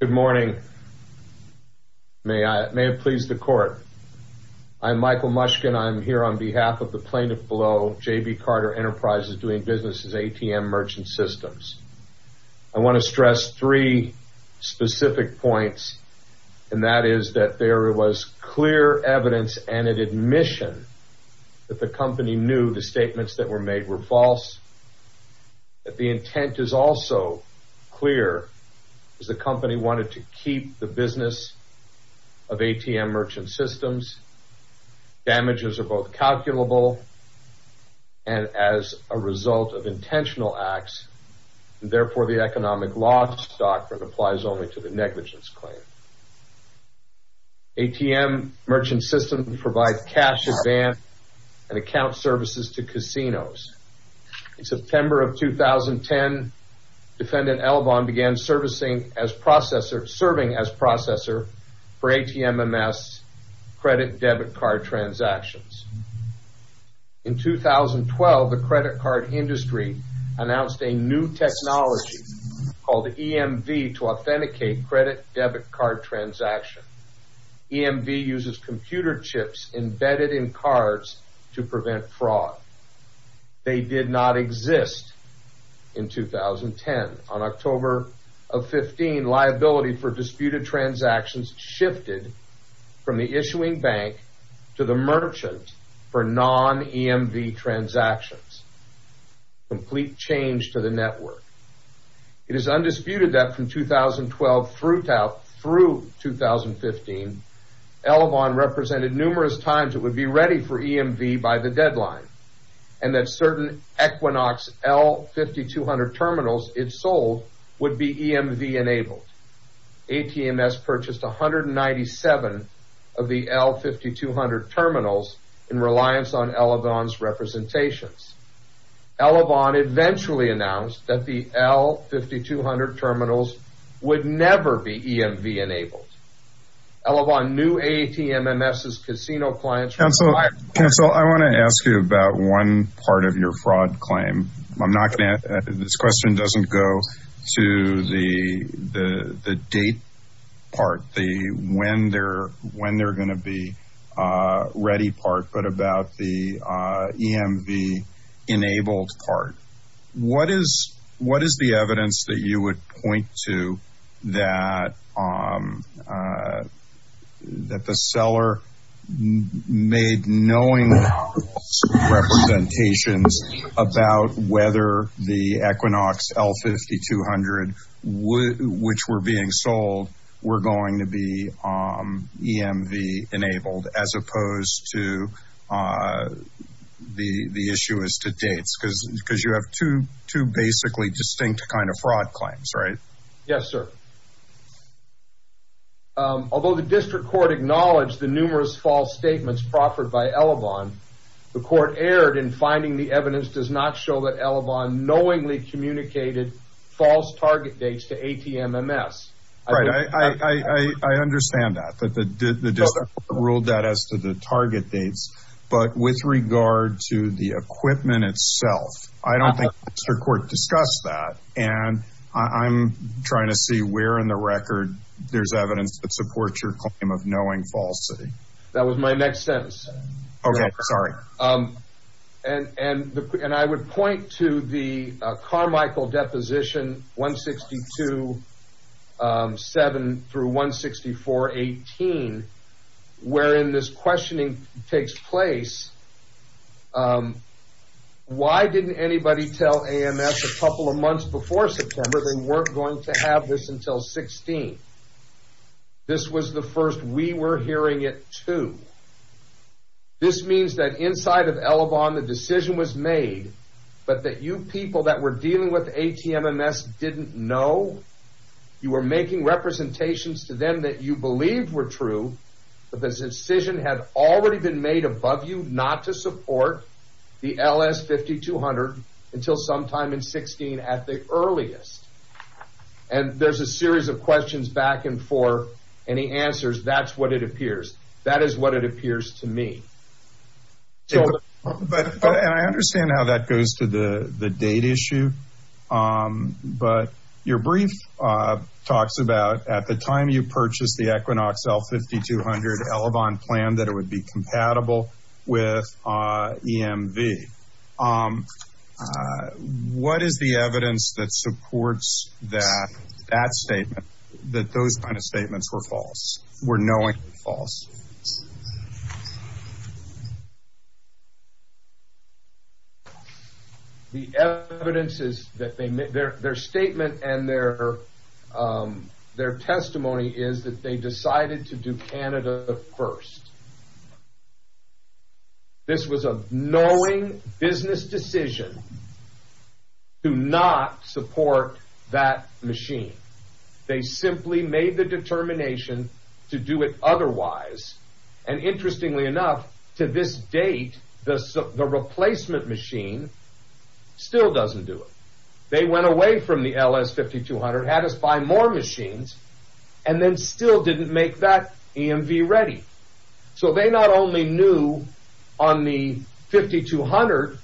Good morning. May it please the court. I'm Michael Mushkin. I'm here on behalf of the plaintiff below J.B. Carter Enterprises doing business as ATM Merchant Systems. I want to stress three specific points, and that is that there was clear evidence and an admission that the company knew the statements that were made were false. The intent is also clear, as the company wanted to keep the business of ATM Merchant Systems. Damages are both calculable and as a result of intentional acts, and therefore the economic loss doctrine applies only to the negligence claim. ATM Merchant Systems provides cash advance and account services to casinos. In September of 2010, Defendant Elavon began serving as processor for ATMMS credit debit card transactions. In 2012, the credit card industry announced a new technology called EMV to authenticate credit debit card transactions. EMV uses computer chips embedded in cards to prevent fraud. They did not exist in 2010. On October of 2015, liability for disputed transactions shifted from the issuing bank to the merchant for non-EMV transactions. Complete change to the network. It is undisputed that from 2012 through 2015, Elavon represented numerous times it would be ready for EMV by the deadline, and that certain Equinox L5200 terminals it sold would be EMV enabled. ATMMS purchased 197 of the L5200 terminals in reliance on Elavon's representations. Elavon eventually announced that the L5200 terminals would never be EMV enabled. Elavon knew ATMMS's casino clients were- Counsel, I want to ask you about one part of your fraud claim. I'm not going to- this question doesn't go to the date part, the when they're going to be ready part, but about the EMV enabled part. What is the evidence that you would point to that the seller made knowing representations about whether the Equinox L5200, which were being sold, were going to be EMV enabled, as opposed to the issue as to dates? Because you have two basically distinct kind of fraud claims, right? Yes, sir. Although the district court acknowledged the numerous false statements proffered by Elavon, the court erred in finding the evidence does not show that Elavon knowingly communicated false target dates to ATMMS. Right, I understand that, that the district court ruled that as to the target dates, but with regard to the equipment itself, I don't think the district court discussed that, and I'm trying to see where in the record there's evidence that supports your claim of knowing falsely. That was my next sentence. Okay, sorry. And I would point to the Carmichael Deposition 162.7 through 164.18, wherein this questioning takes place. Why didn't anybody tell AMS a couple of months before September they weren't going to have this until 16? This was the first we were hearing it too. This means that inside of Elavon the decision was made, but that you people that were dealing with ATMMS didn't know. You were making representations to them that you believed were true, but this decision had already been made above you not to support the LS5200 until sometime in 16 at the earliest. And there's a series of questions back and forth, and he answers, that's what it appears. That is what it appears to me. And I understand how that goes to the date issue, but your brief talks about at the time you purchased the Equinox L5200, Elavon planned that it would be compatible with EMV. What is the evidence that supports that statement, that those kind of statements were false, were knowingly false? The evidence is that their statement and their testimony is that they decided to do Canada first. This was a knowing business decision to not support that machine. They simply made the determination to do it otherwise, and interestingly enough to this date the replacement machine still doesn't do it. They went away from the LS5200, had us buy more machines, and then still didn't make that EMV ready. So they not only knew on the 5200,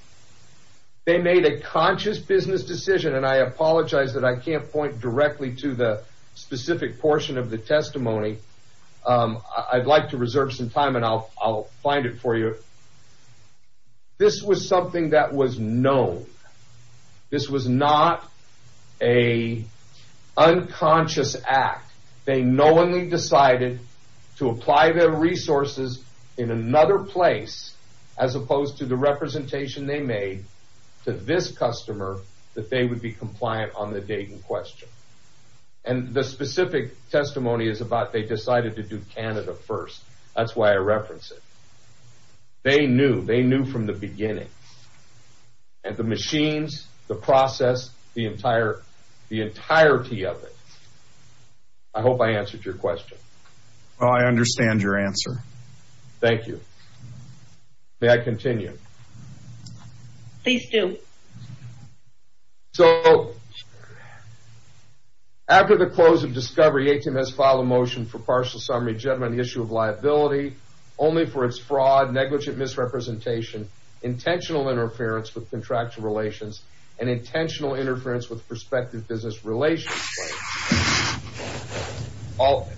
they made a conscious business decision, and I apologize that I can't point directly to the specific portion of the testimony. I'd like to reserve some time and I'll find it for you. This was something that was known. This was not an unconscious act. They knowingly decided to apply their resources in another place as opposed to the representation they made to this customer that they would be compliant on the date in question. And the specific testimony is about they decided to do Canada first. That's why I reference it. They knew. They knew from the beginning. And the machines, the process, the entirety of it. I hope I answered your question. I understand your answer. Thank you. May I continue? Please do. So, after the close of discovery, ATMS filed a motion for partial summary judgment on the issue of liability only for its fraud, negligent misrepresentation, intentional interference with contractual relations, and intentional interference with prospective business relations.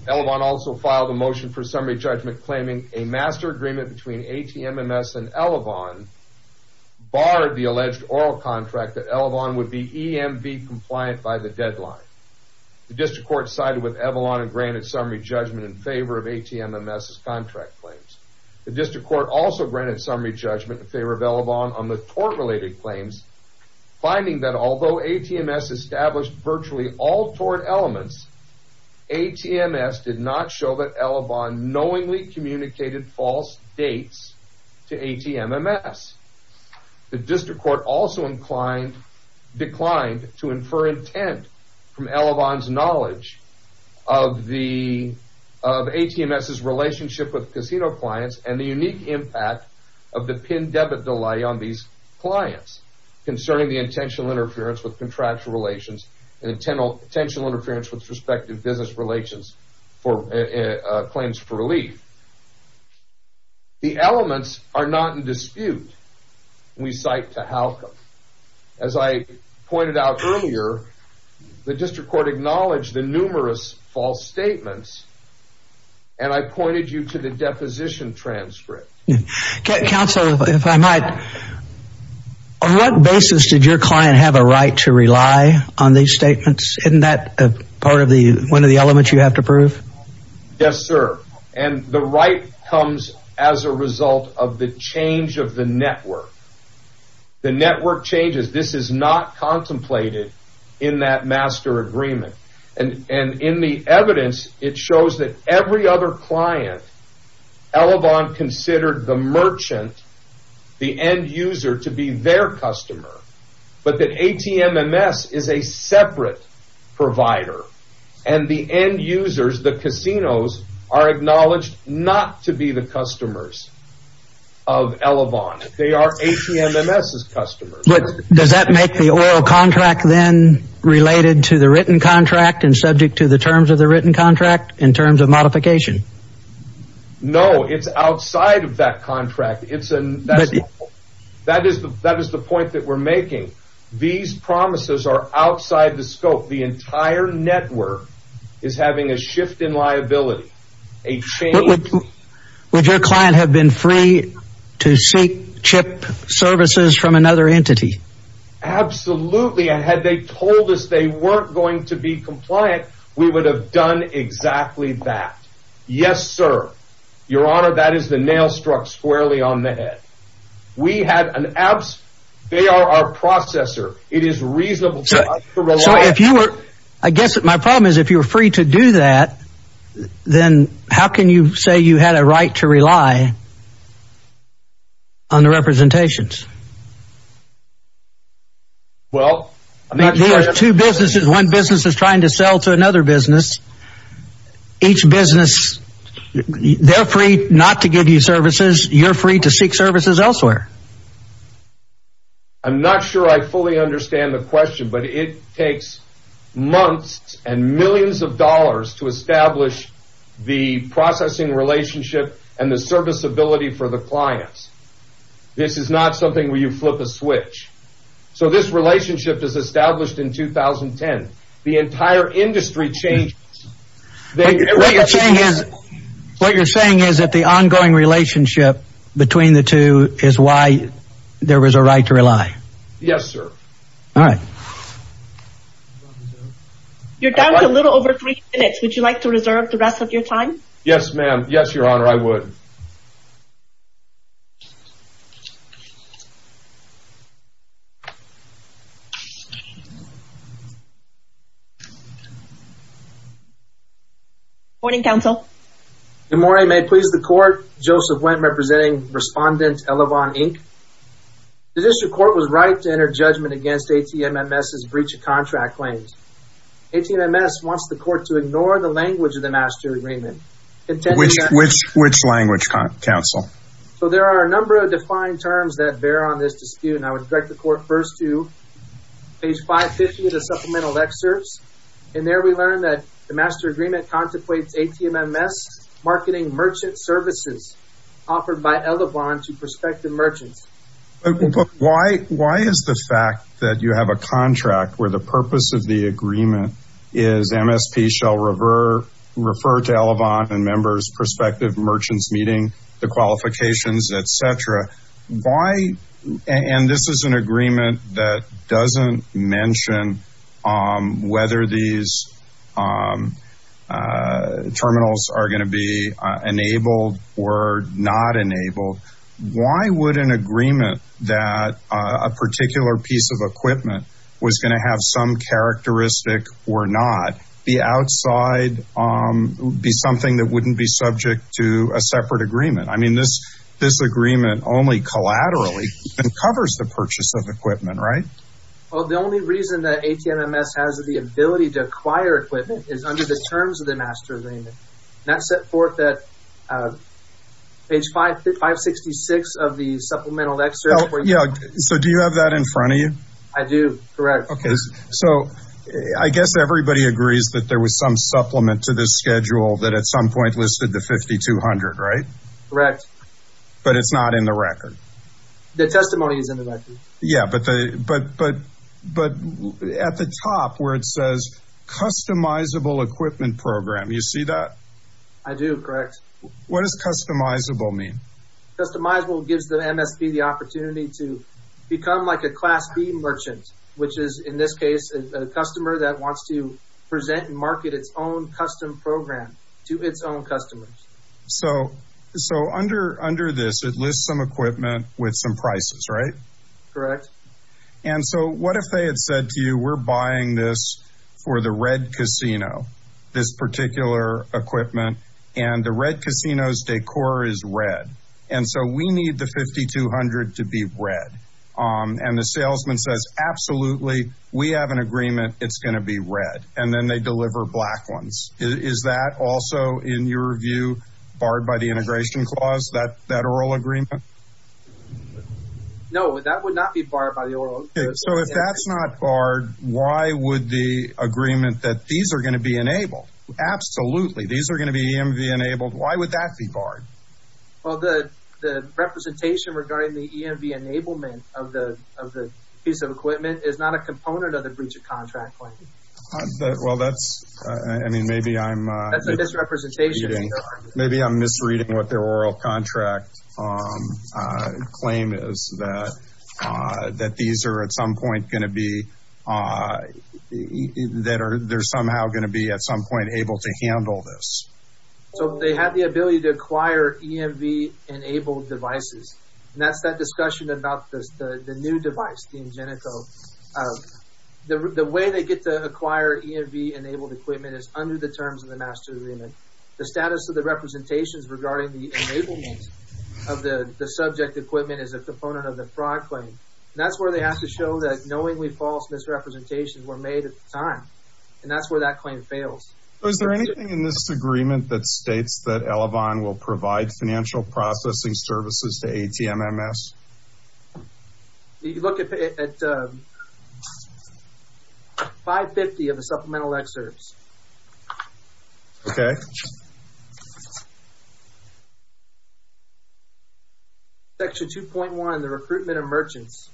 Elavon also filed a motion for summary judgment claiming a master agreement between ATMMS and Elavon barred the alleged oral contract that Elavon would be EMV compliant by the deadline. The district court sided with Avalon and granted summary judgment in favor of ATMMS' contract claims. The district court also granted summary judgment in favor of Elavon on the tort-related claims, finding that although ATMMS established virtually all tort elements, ATMMS did not show that Elavon knowingly communicated false dates to ATMMS. The district court also declined to infer intent from Elavon's knowledge of ATMMS' relationship with casino clients and the unique impact of the pin-debit delay on these clients concerning the intentional interference with contractual relations and intentional interference with prospective business claims for relief. The elements are not in dispute when we cite to Halcom. As I pointed out earlier, the district court acknowledged the numerous false statements and I pointed you to the deposition transcript. Counsel, if I might, on what basis did your client have a right to rely on these statements? Isn't that one of the elements you have to prove? Yes, sir. And the right comes as a result of the change of the network. The network changes. This is not contemplated in that master agreement. And in the evidence, it shows that every other client, Elavon considered the merchant, the end user, to be their customer, but that ATMMS is a separate provider and the end users, the casinos, are acknowledged not to be the customers of Elavon. They are ATMMS' customers. Does that make the oral contract then related to the written contract and subject to the terms of the written contract in terms of modification? No, it's outside of that contract. That is the point that we're making. These promises are outside the scope. The entire network is having a shift in liability, a change. Would your client have been free to seek chip services from another entity? Absolutely. And had they told us they weren't going to be compliant, we would have done exactly that. Yes, sir. Your Honor, that is the nail struck squarely on the head. They are our processor. It is reasonable for us to rely on them. I guess that my problem is if you're free to do that, then how can you say you had a right to rely on the representations? Well, I mean, there are two businesses. One business is trying to sell to another business. Each business, they're free not to give you services. You're free to seek services elsewhere. I'm not sure I fully understand the question, but it takes months and millions of dollars to establish the processing relationship and the serviceability for the clients. This is not something where you flip a switch. So this relationship was established in 2010. The entire industry changed. What you're saying is that the ongoing relationship between the two is why there was a right to rely? Yes, sir. All right. You're down to a little over three minutes. Would you like to reserve the rest of your time? Yes, ma'am. Yes, Your Honor, I would. Good morning, counsel. Good morning. May it please the court. Joseph Wendt representing Respondent Elevon, Inc. The district court was right to enter judgment against ATMMS's breach of contract claims. ATMMS wants the court to ignore the language of the master agreement. Which language, counsel? So there are a number of defined terms that bear on this dispute, and I would direct the court first to page 550 of the supplemental excerpts. In there, we learn that the master agreement contemplates ATMMS marketing merchant services offered by Elevon to prospective merchants. But why is the fact that you have a contract where the purpose of the agreement is MSP shall refer to Elevon and members prospective merchants meeting the qualifications, etc. Why? And this is an agreement that doesn't mention whether these terminals are going to be enabled or not enabled. Why would an agreement that a particular piece of equipment was going to have some characteristic or not be outside, be something that wouldn't be subject to a separate agreement? I mean, this agreement only collaterally covers the purchase of equipment, right? Well, the only reason that ATMMS has the ability to acquire equipment is under the terms of the master agreement. And that's set forth at page 566 of the supplemental excerpt. So do you have that in front of you? I do, correct. Okay, so I guess everybody agrees that there was some supplement to this schedule that at some point listed the 5200, right? Correct. But it's not in the record. The testimony is in the record. Yeah, but at the top where it says customizable equipment program, you see that? I do, correct. What does customizable mean? Customizable gives the MSP the opportunity to become like a class B merchant, which is in this case, a customer that wants to present and market its own custom program to its own customers. So under this, it lists some equipment with some prices, right? Correct. And so what if they had said to you, we're buying this for the red casino, this particular equipment, and the red casino's decor is red. And so we need the 5200 to be red. And the salesman says, absolutely. We have an agreement. It's going to be red. And then they deliver black ones. Is that also, in your view, barred by the integration clause, that oral agreement? No, that would not be barred by the oral agreement. So if that's not barred, why would the agreement that these are going to be enabled, absolutely, these are going to be EMV enabled, why would that be barred? Well, the representation regarding the EMV enablement of the piece of equipment is not a component of the breach of contract claim. Well, that's – I mean, maybe I'm – That's a misrepresentation. Maybe I'm misreading what their oral contract claim is, that these are at some point going to be – that they're somehow going to be at some point able to handle this. So they have the ability to acquire EMV enabled devices. And that's that discussion about the new device, the Ingenico. The way they get to acquire EMV enabled equipment is under the terms of the master agreement. The status of the representations regarding the enablement of the subject equipment is a component of the fraud claim. And that's where they have to show that knowingly false misrepresentations were made at the time. And that's where that claim fails. Is there anything in this agreement that states that Elevon will provide financial processing services to ATMMS? If you look at 550 of the supplemental excerpts. Okay. Section 2.1, the recruitment of merchants.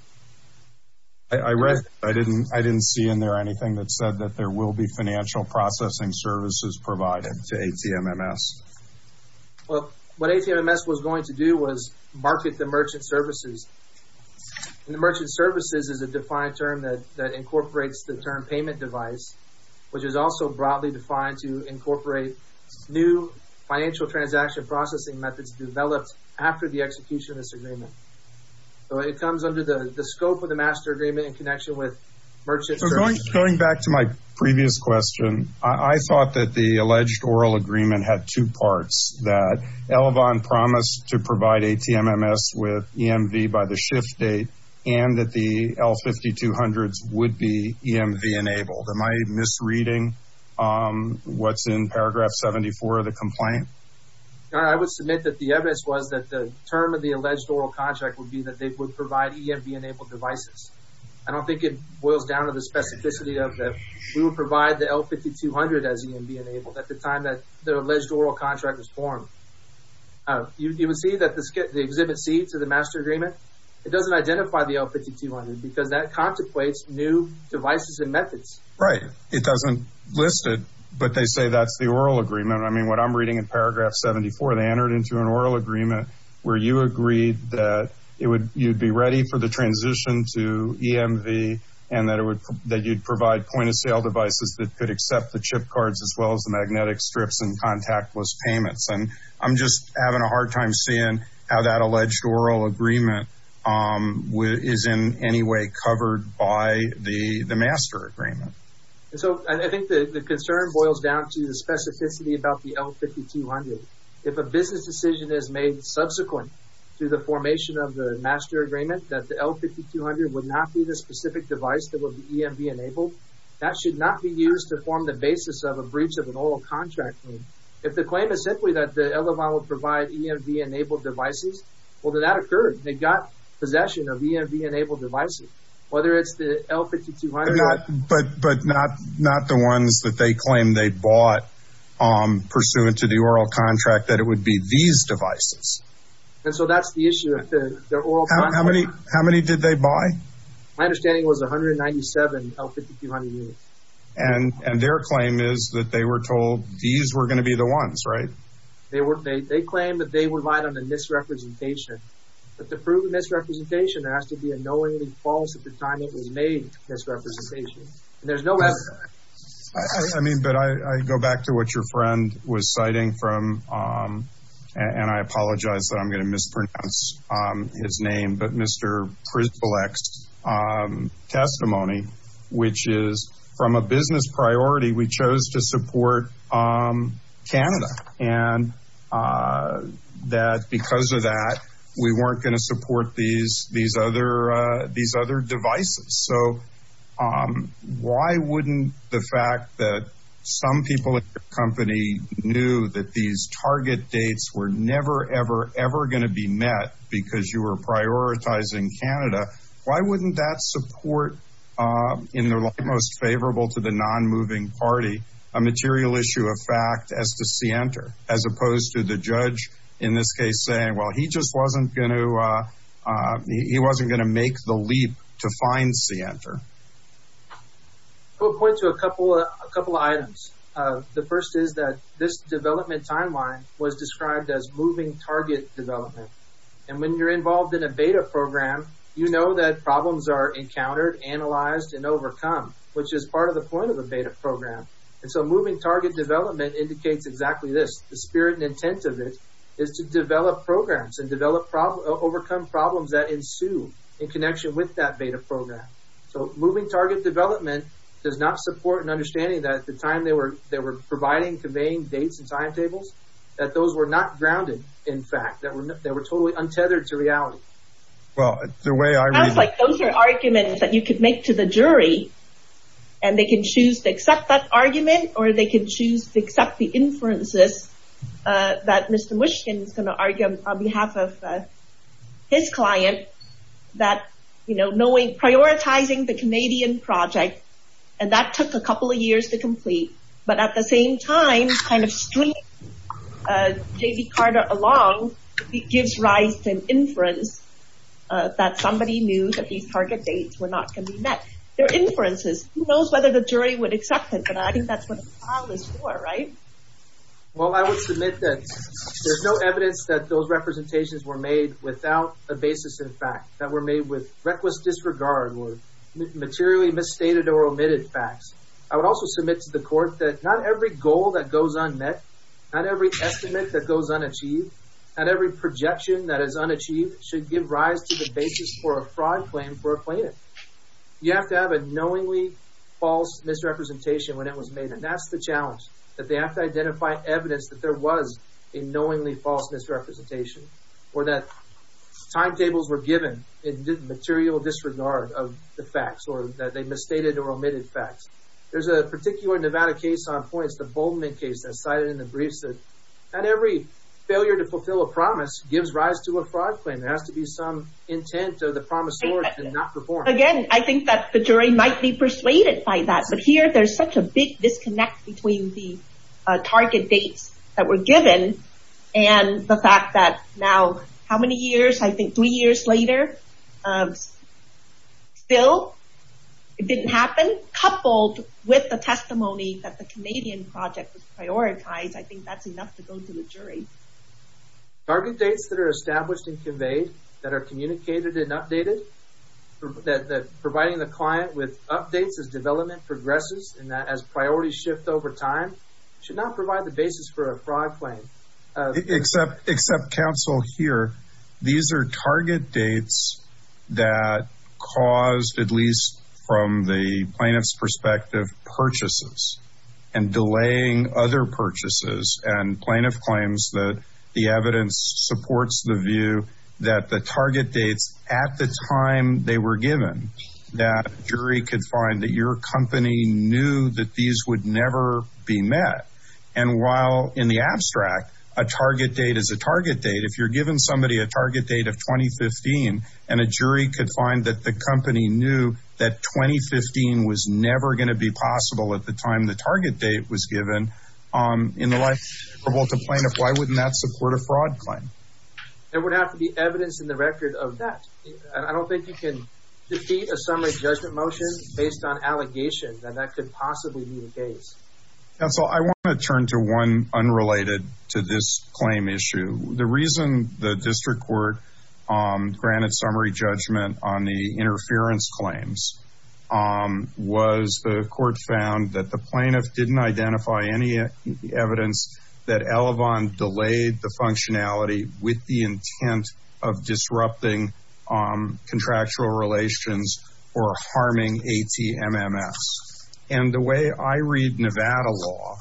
I read – I didn't see in there anything that said that there will be financial processing services provided to ATMMS. Well, what ATMMS was going to do was market the merchant services. And the merchant services is a defined term that incorporates the term payment device, which is also broadly defined to incorporate new financial transaction processing methods developed after the execution of this agreement. So it comes under the scope of the master agreement in connection with merchant services. Going back to my previous question, I thought that the alleged oral agreement had two parts. That Elevon promised to provide ATMMS with EMV by the shift date and that the L5200s would be EMV enabled. Am I misreading what's in paragraph 74 of the complaint? I would submit that the evidence was that the term of the alleged oral contract would be that they would provide EMV enabled devices. I don't think it boils down to the specificity of that we would provide the L5200 as EMV enabled at the time that the alleged oral contract was formed. You would see that the Exhibit C to the master agreement, it doesn't identify the L5200 because that contemplates new devices and methods. Right. It doesn't list it, but they say that's the oral agreement. I mean, what I'm reading in paragraph 74, they entered into an oral agreement where you agreed that you'd be ready for the transition to EMV and that you'd provide point of sale devices that could accept the chip cards as well as the magnetic strips and contactless payments. And I'm just having a hard time seeing how that alleged oral agreement is in any way covered by the master agreement. So, I think the concern boils down to the specificity about the L5200. If a business decision is made subsequent to the formation of the master agreement that the L5200 would not be the specific device that would be EMV enabled, that should not be used to form the basis of a breach of an oral contract. If the claim is simply that the LMI would provide EMV enabled devices, well, then that occurred. They got possession of EMV enabled devices, whether it's the L5200. But not the ones that they claim they bought pursuant to the oral contract, that it would be these devices. And so that's the issue of their oral contract. How many did they buy? My understanding was 197 L5200 units. And their claim is that they were told these were going to be the ones, right? They claim that they relied on a misrepresentation. But to prove a misrepresentation, there has to be a knowingly false at the time it was made misrepresentation. And there's no evidence of that. I mean, but I go back to what your friend was citing from, and I apologize that I'm going to mispronounce his name, but Mr. Priblek's testimony, which is from a business priority, we chose to support Canada. And that because of that, we weren't going to support these other devices. So why wouldn't the fact that some people at your company knew that these target dates were never, ever, ever going to be met because you were prioritizing Canada, why wouldn't that support, in the light most favorable to the non-moving party, a material issue of fact as to Cienter, as opposed to the judge in this case saying, well, he just wasn't going to make the leap to find Cienter? I will point to a couple of items. The first is that this development timeline was described as moving target development. And when you're involved in a beta program, you know that problems are encountered, analyzed, and overcome, which is part of the point of a beta program. And so moving target development indicates exactly this. The spirit and intent of it is to develop programs and overcome problems that ensue in connection with that beta program. So moving target development does not support an understanding that at the time they were providing, conveying dates and timetables, that those were not grounded in fact, that they were totally untethered to reality. Well, the way I read it. It sounds like those are arguments that you could make to the jury, and they can choose to accept that argument, or they can choose to accept the inferences that Mr. Mushkin is going to argue on behalf of his client that, you know, knowing, prioritizing the Canadian project, and that took a couple of years to complete. But at the same time, kind of stringing J.D. Carter along, it gives rise to an inference that somebody knew that these target dates were not going to be met. They're inferences. Who knows whether the jury would accept it, but I think that's what a trial is for, right? Well, I would submit that there's no evidence that those representations were made without a basis in fact, that were made with reckless disregard or materially misstated or omitted facts. I would also submit to the court that not every goal that goes unmet, not every estimate that goes unachieved, not every projection that is unachieved should give rise to the basis for a fraud claim for a plaintiff. You have to have a knowingly false misrepresentation when it was made, and that's the challenge, that they have to identify evidence that there was a knowingly false misrepresentation, or that timetables were given in material disregard of the facts, or that they misstated or omitted facts. There's a particular Nevada case on points, the Boldman case that's cited in the briefs, that not every failure to fulfill a promise gives rise to a fraud claim. There has to be some intent of the promissory to not perform. Again, I think that the jury might be persuaded by that, but here there's such a big disconnect between the target dates that were given, and the fact that now how many years, I think three years later, still it didn't happen, coupled with the testimony that the Canadian project was prioritized, I think that's enough to go to the jury. Target dates that are established and conveyed, that are communicated and updated, that providing the client with updates as development progresses, and that as priorities shift over time, should not provide the basis for a fraud claim. Except counsel here, these are target dates that caused, at least from the plaintiff's perspective, purchases, and delaying other purchases, and plaintiff claims that the evidence supports the view that the target dates at the time they were given, that a jury could find that your company knew that these would never be met. And while in the abstract, a target date is a target date, if you're giving somebody a target date of 2015, and a jury could find that the company knew that 2015 was never going to be possible at the time the target date was given, in the light of the plaintiff, why wouldn't that support a fraud claim? There would have to be evidence in the record of that. I don't think you can defeat a summary judgment motion based on allegations, and that could possibly be the case. Counsel, I want to turn to one unrelated to this claim issue. The reason the district court granted summary judgment on the interference claims was the court found that the plaintiff didn't identify any evidence that Elavon delayed the functionality with the intent of disrupting contractual relations or harming ATMMS. And the way I read Nevada law,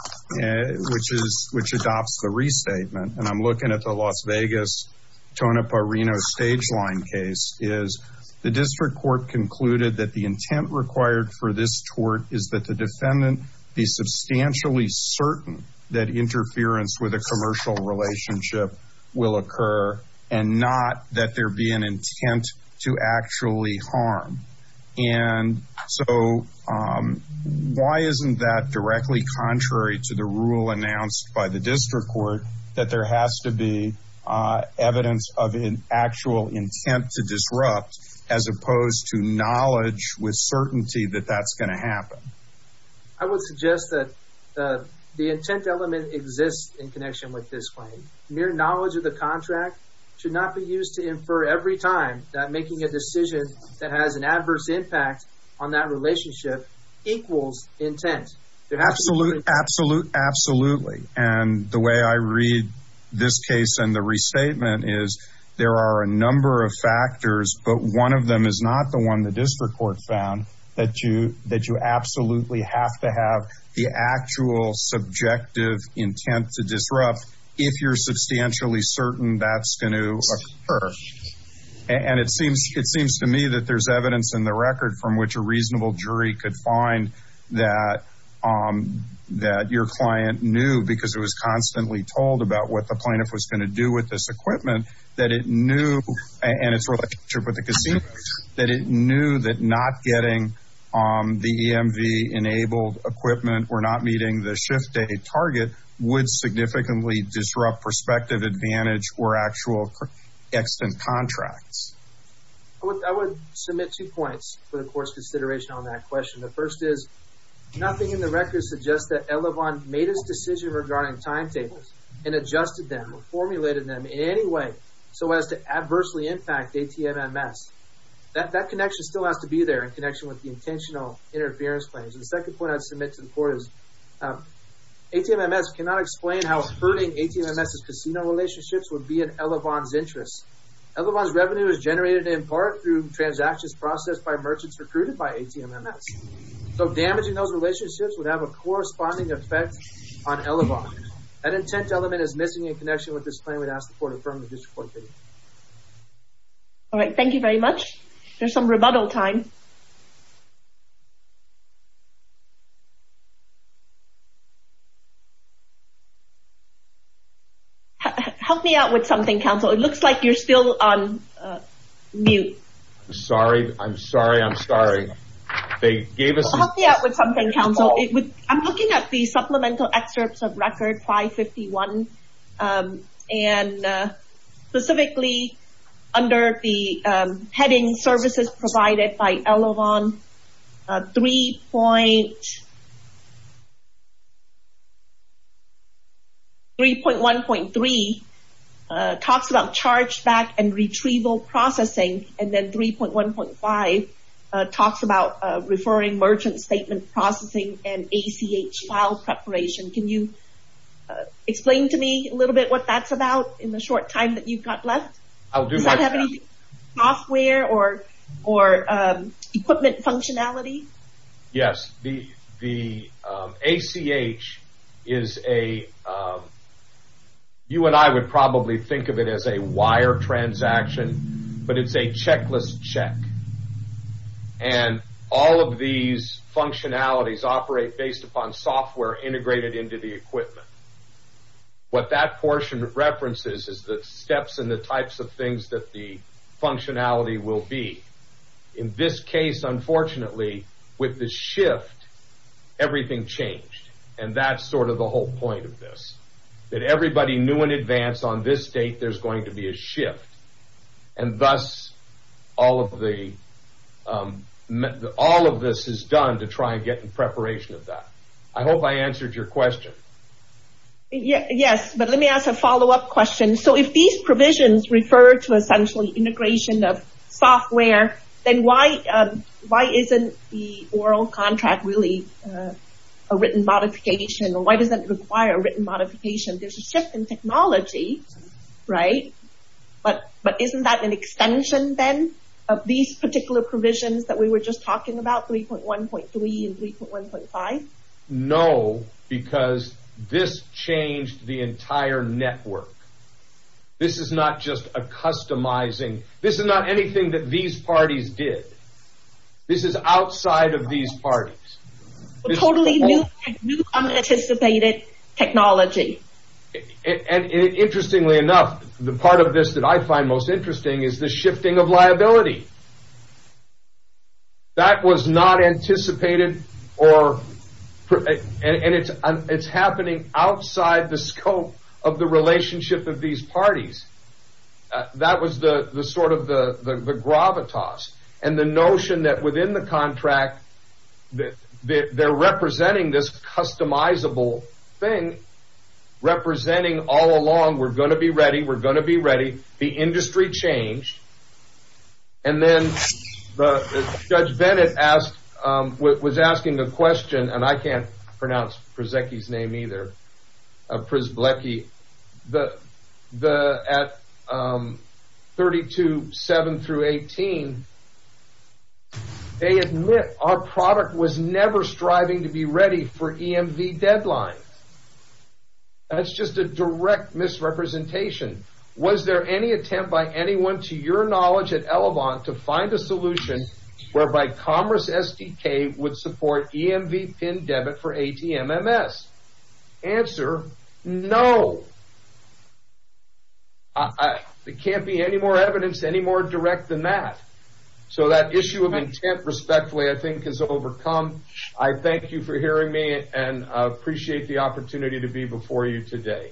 which adopts the restatement, and I'm looking at the Las Vegas Tonopah Reno stage line case, is the district court concluded that the intent required for this tort is that the defendant be substantially certain that interference with a commercial relationship will occur and not that there be an intent to actually harm. And so why isn't that directly contrary to the rule announced by the district court that there has to be evidence of an actual intent to disrupt as opposed to knowledge with certainty that that's going to happen? I would suggest that the intent element exists in connection with this claim. Mere knowledge of the contract should not be used to infer every time that making a decision that has an adverse impact on that relationship equals intent. Absolutely. And the way I read this case and the restatement is there are a number of factors, but one of them is not the one the district court found, that you absolutely have to have the actual subjective intent to disrupt. If you're substantially certain that's going to occur. And it seems to me that there's evidence in the record from which a reasonable jury could find that your client knew because it was constantly told about what the plaintiff was going to do with this equipment, that it knew, and it's related to the casinos, that it knew that not getting the EMV-enabled equipment or not meeting the shift-day target would significantly disrupt prospective advantage or actual extent contracts. I would submit two points for the court's consideration on that question. The first is nothing in the record suggests that Elavon made his decision regarding timetables and adjusted them or formulated them in any way so as to adversely impact ATMMS. That connection still has to be there in connection with the intentional interference claims. And the second point I would submit to the court is ATMMS cannot explain how hurting ATMMS' casino relationships would be in Elavon's interests. Elavon's revenue is generated in part through transactions processed by merchants recruited by ATMMS. So damaging those relationships would have a corresponding effect on Elavon. That intent element is missing in connection with this claim. I would ask the court to affirm the district court opinion. All right, thank you very much. There's some rebuttal time. Help me out with something, counsel. It looks like you're still on mute. Sorry, I'm sorry, I'm sorry. Help me out with something, counsel. I'm looking at the supplemental excerpts of record 551 and specifically under the heading services provided by Elavon, 3.1.3 talks about chargeback and retrieval processing and then 3.1.5 talks about referring merchant statement processing and ACH file preparation. Can you explain to me a little bit what that's about in the short time that you've got left? Does that have any software or equipment functionality? Yes. The ACH is a, you and I would probably think of it as a wire transaction, but it's a checklist check. And all of these functionalities operate based upon software integrated into the equipment. What that portion references is the steps and the types of things that the functionality will be. In this case, unfortunately, with the shift, everything changed. And that's sort of the whole point of this. That everybody knew in advance on this date there's going to be a shift. And thus, all of this is done to try and get in preparation of that. I hope I answered your question. Yes, but let me ask a follow-up question. So if these provisions refer to essentially integration of software, then why isn't the oral contract really a written modification? Why does that require a written modification? There's a shift in technology, right? But isn't that an extension then of these particular provisions that we were just talking about, 3.1.3 and 3.1.5? No, because this changed the entire network. This is not just a customizing. This is not anything that these parties did. This is outside of these parties. Totally new, unanticipated technology. And interestingly enough, the part of this that I find most interesting is the shifting of liability. That was not anticipated, and it's happening outside the scope of the relationship of these parties. That was sort of the gravitas. And the notion that within the contract, they're representing this customizable thing. Representing all along, we're going to be ready, we're going to be ready. The industry changed. And then Judge Bennett was asking the question, and I can't pronounce Priszecki's name either, Prisblecki. At 32.7 through 18, they admit our product was never striving to be ready for EMV deadlines. That's just a direct misrepresentation. Was there any attempt by anyone to your knowledge at Elevant to find a solution whereby Commerce SDK would support EMV pin debit for ATMMS? Answer, no. There can't be any more evidence any more direct than that. So that issue of intent, respectfully, I think is overcome. I thank you for hearing me, and I appreciate the opportunity to be before you today.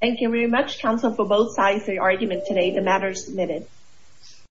Thank you very much, counsel, for both sides of your argument today. The matter is submitted.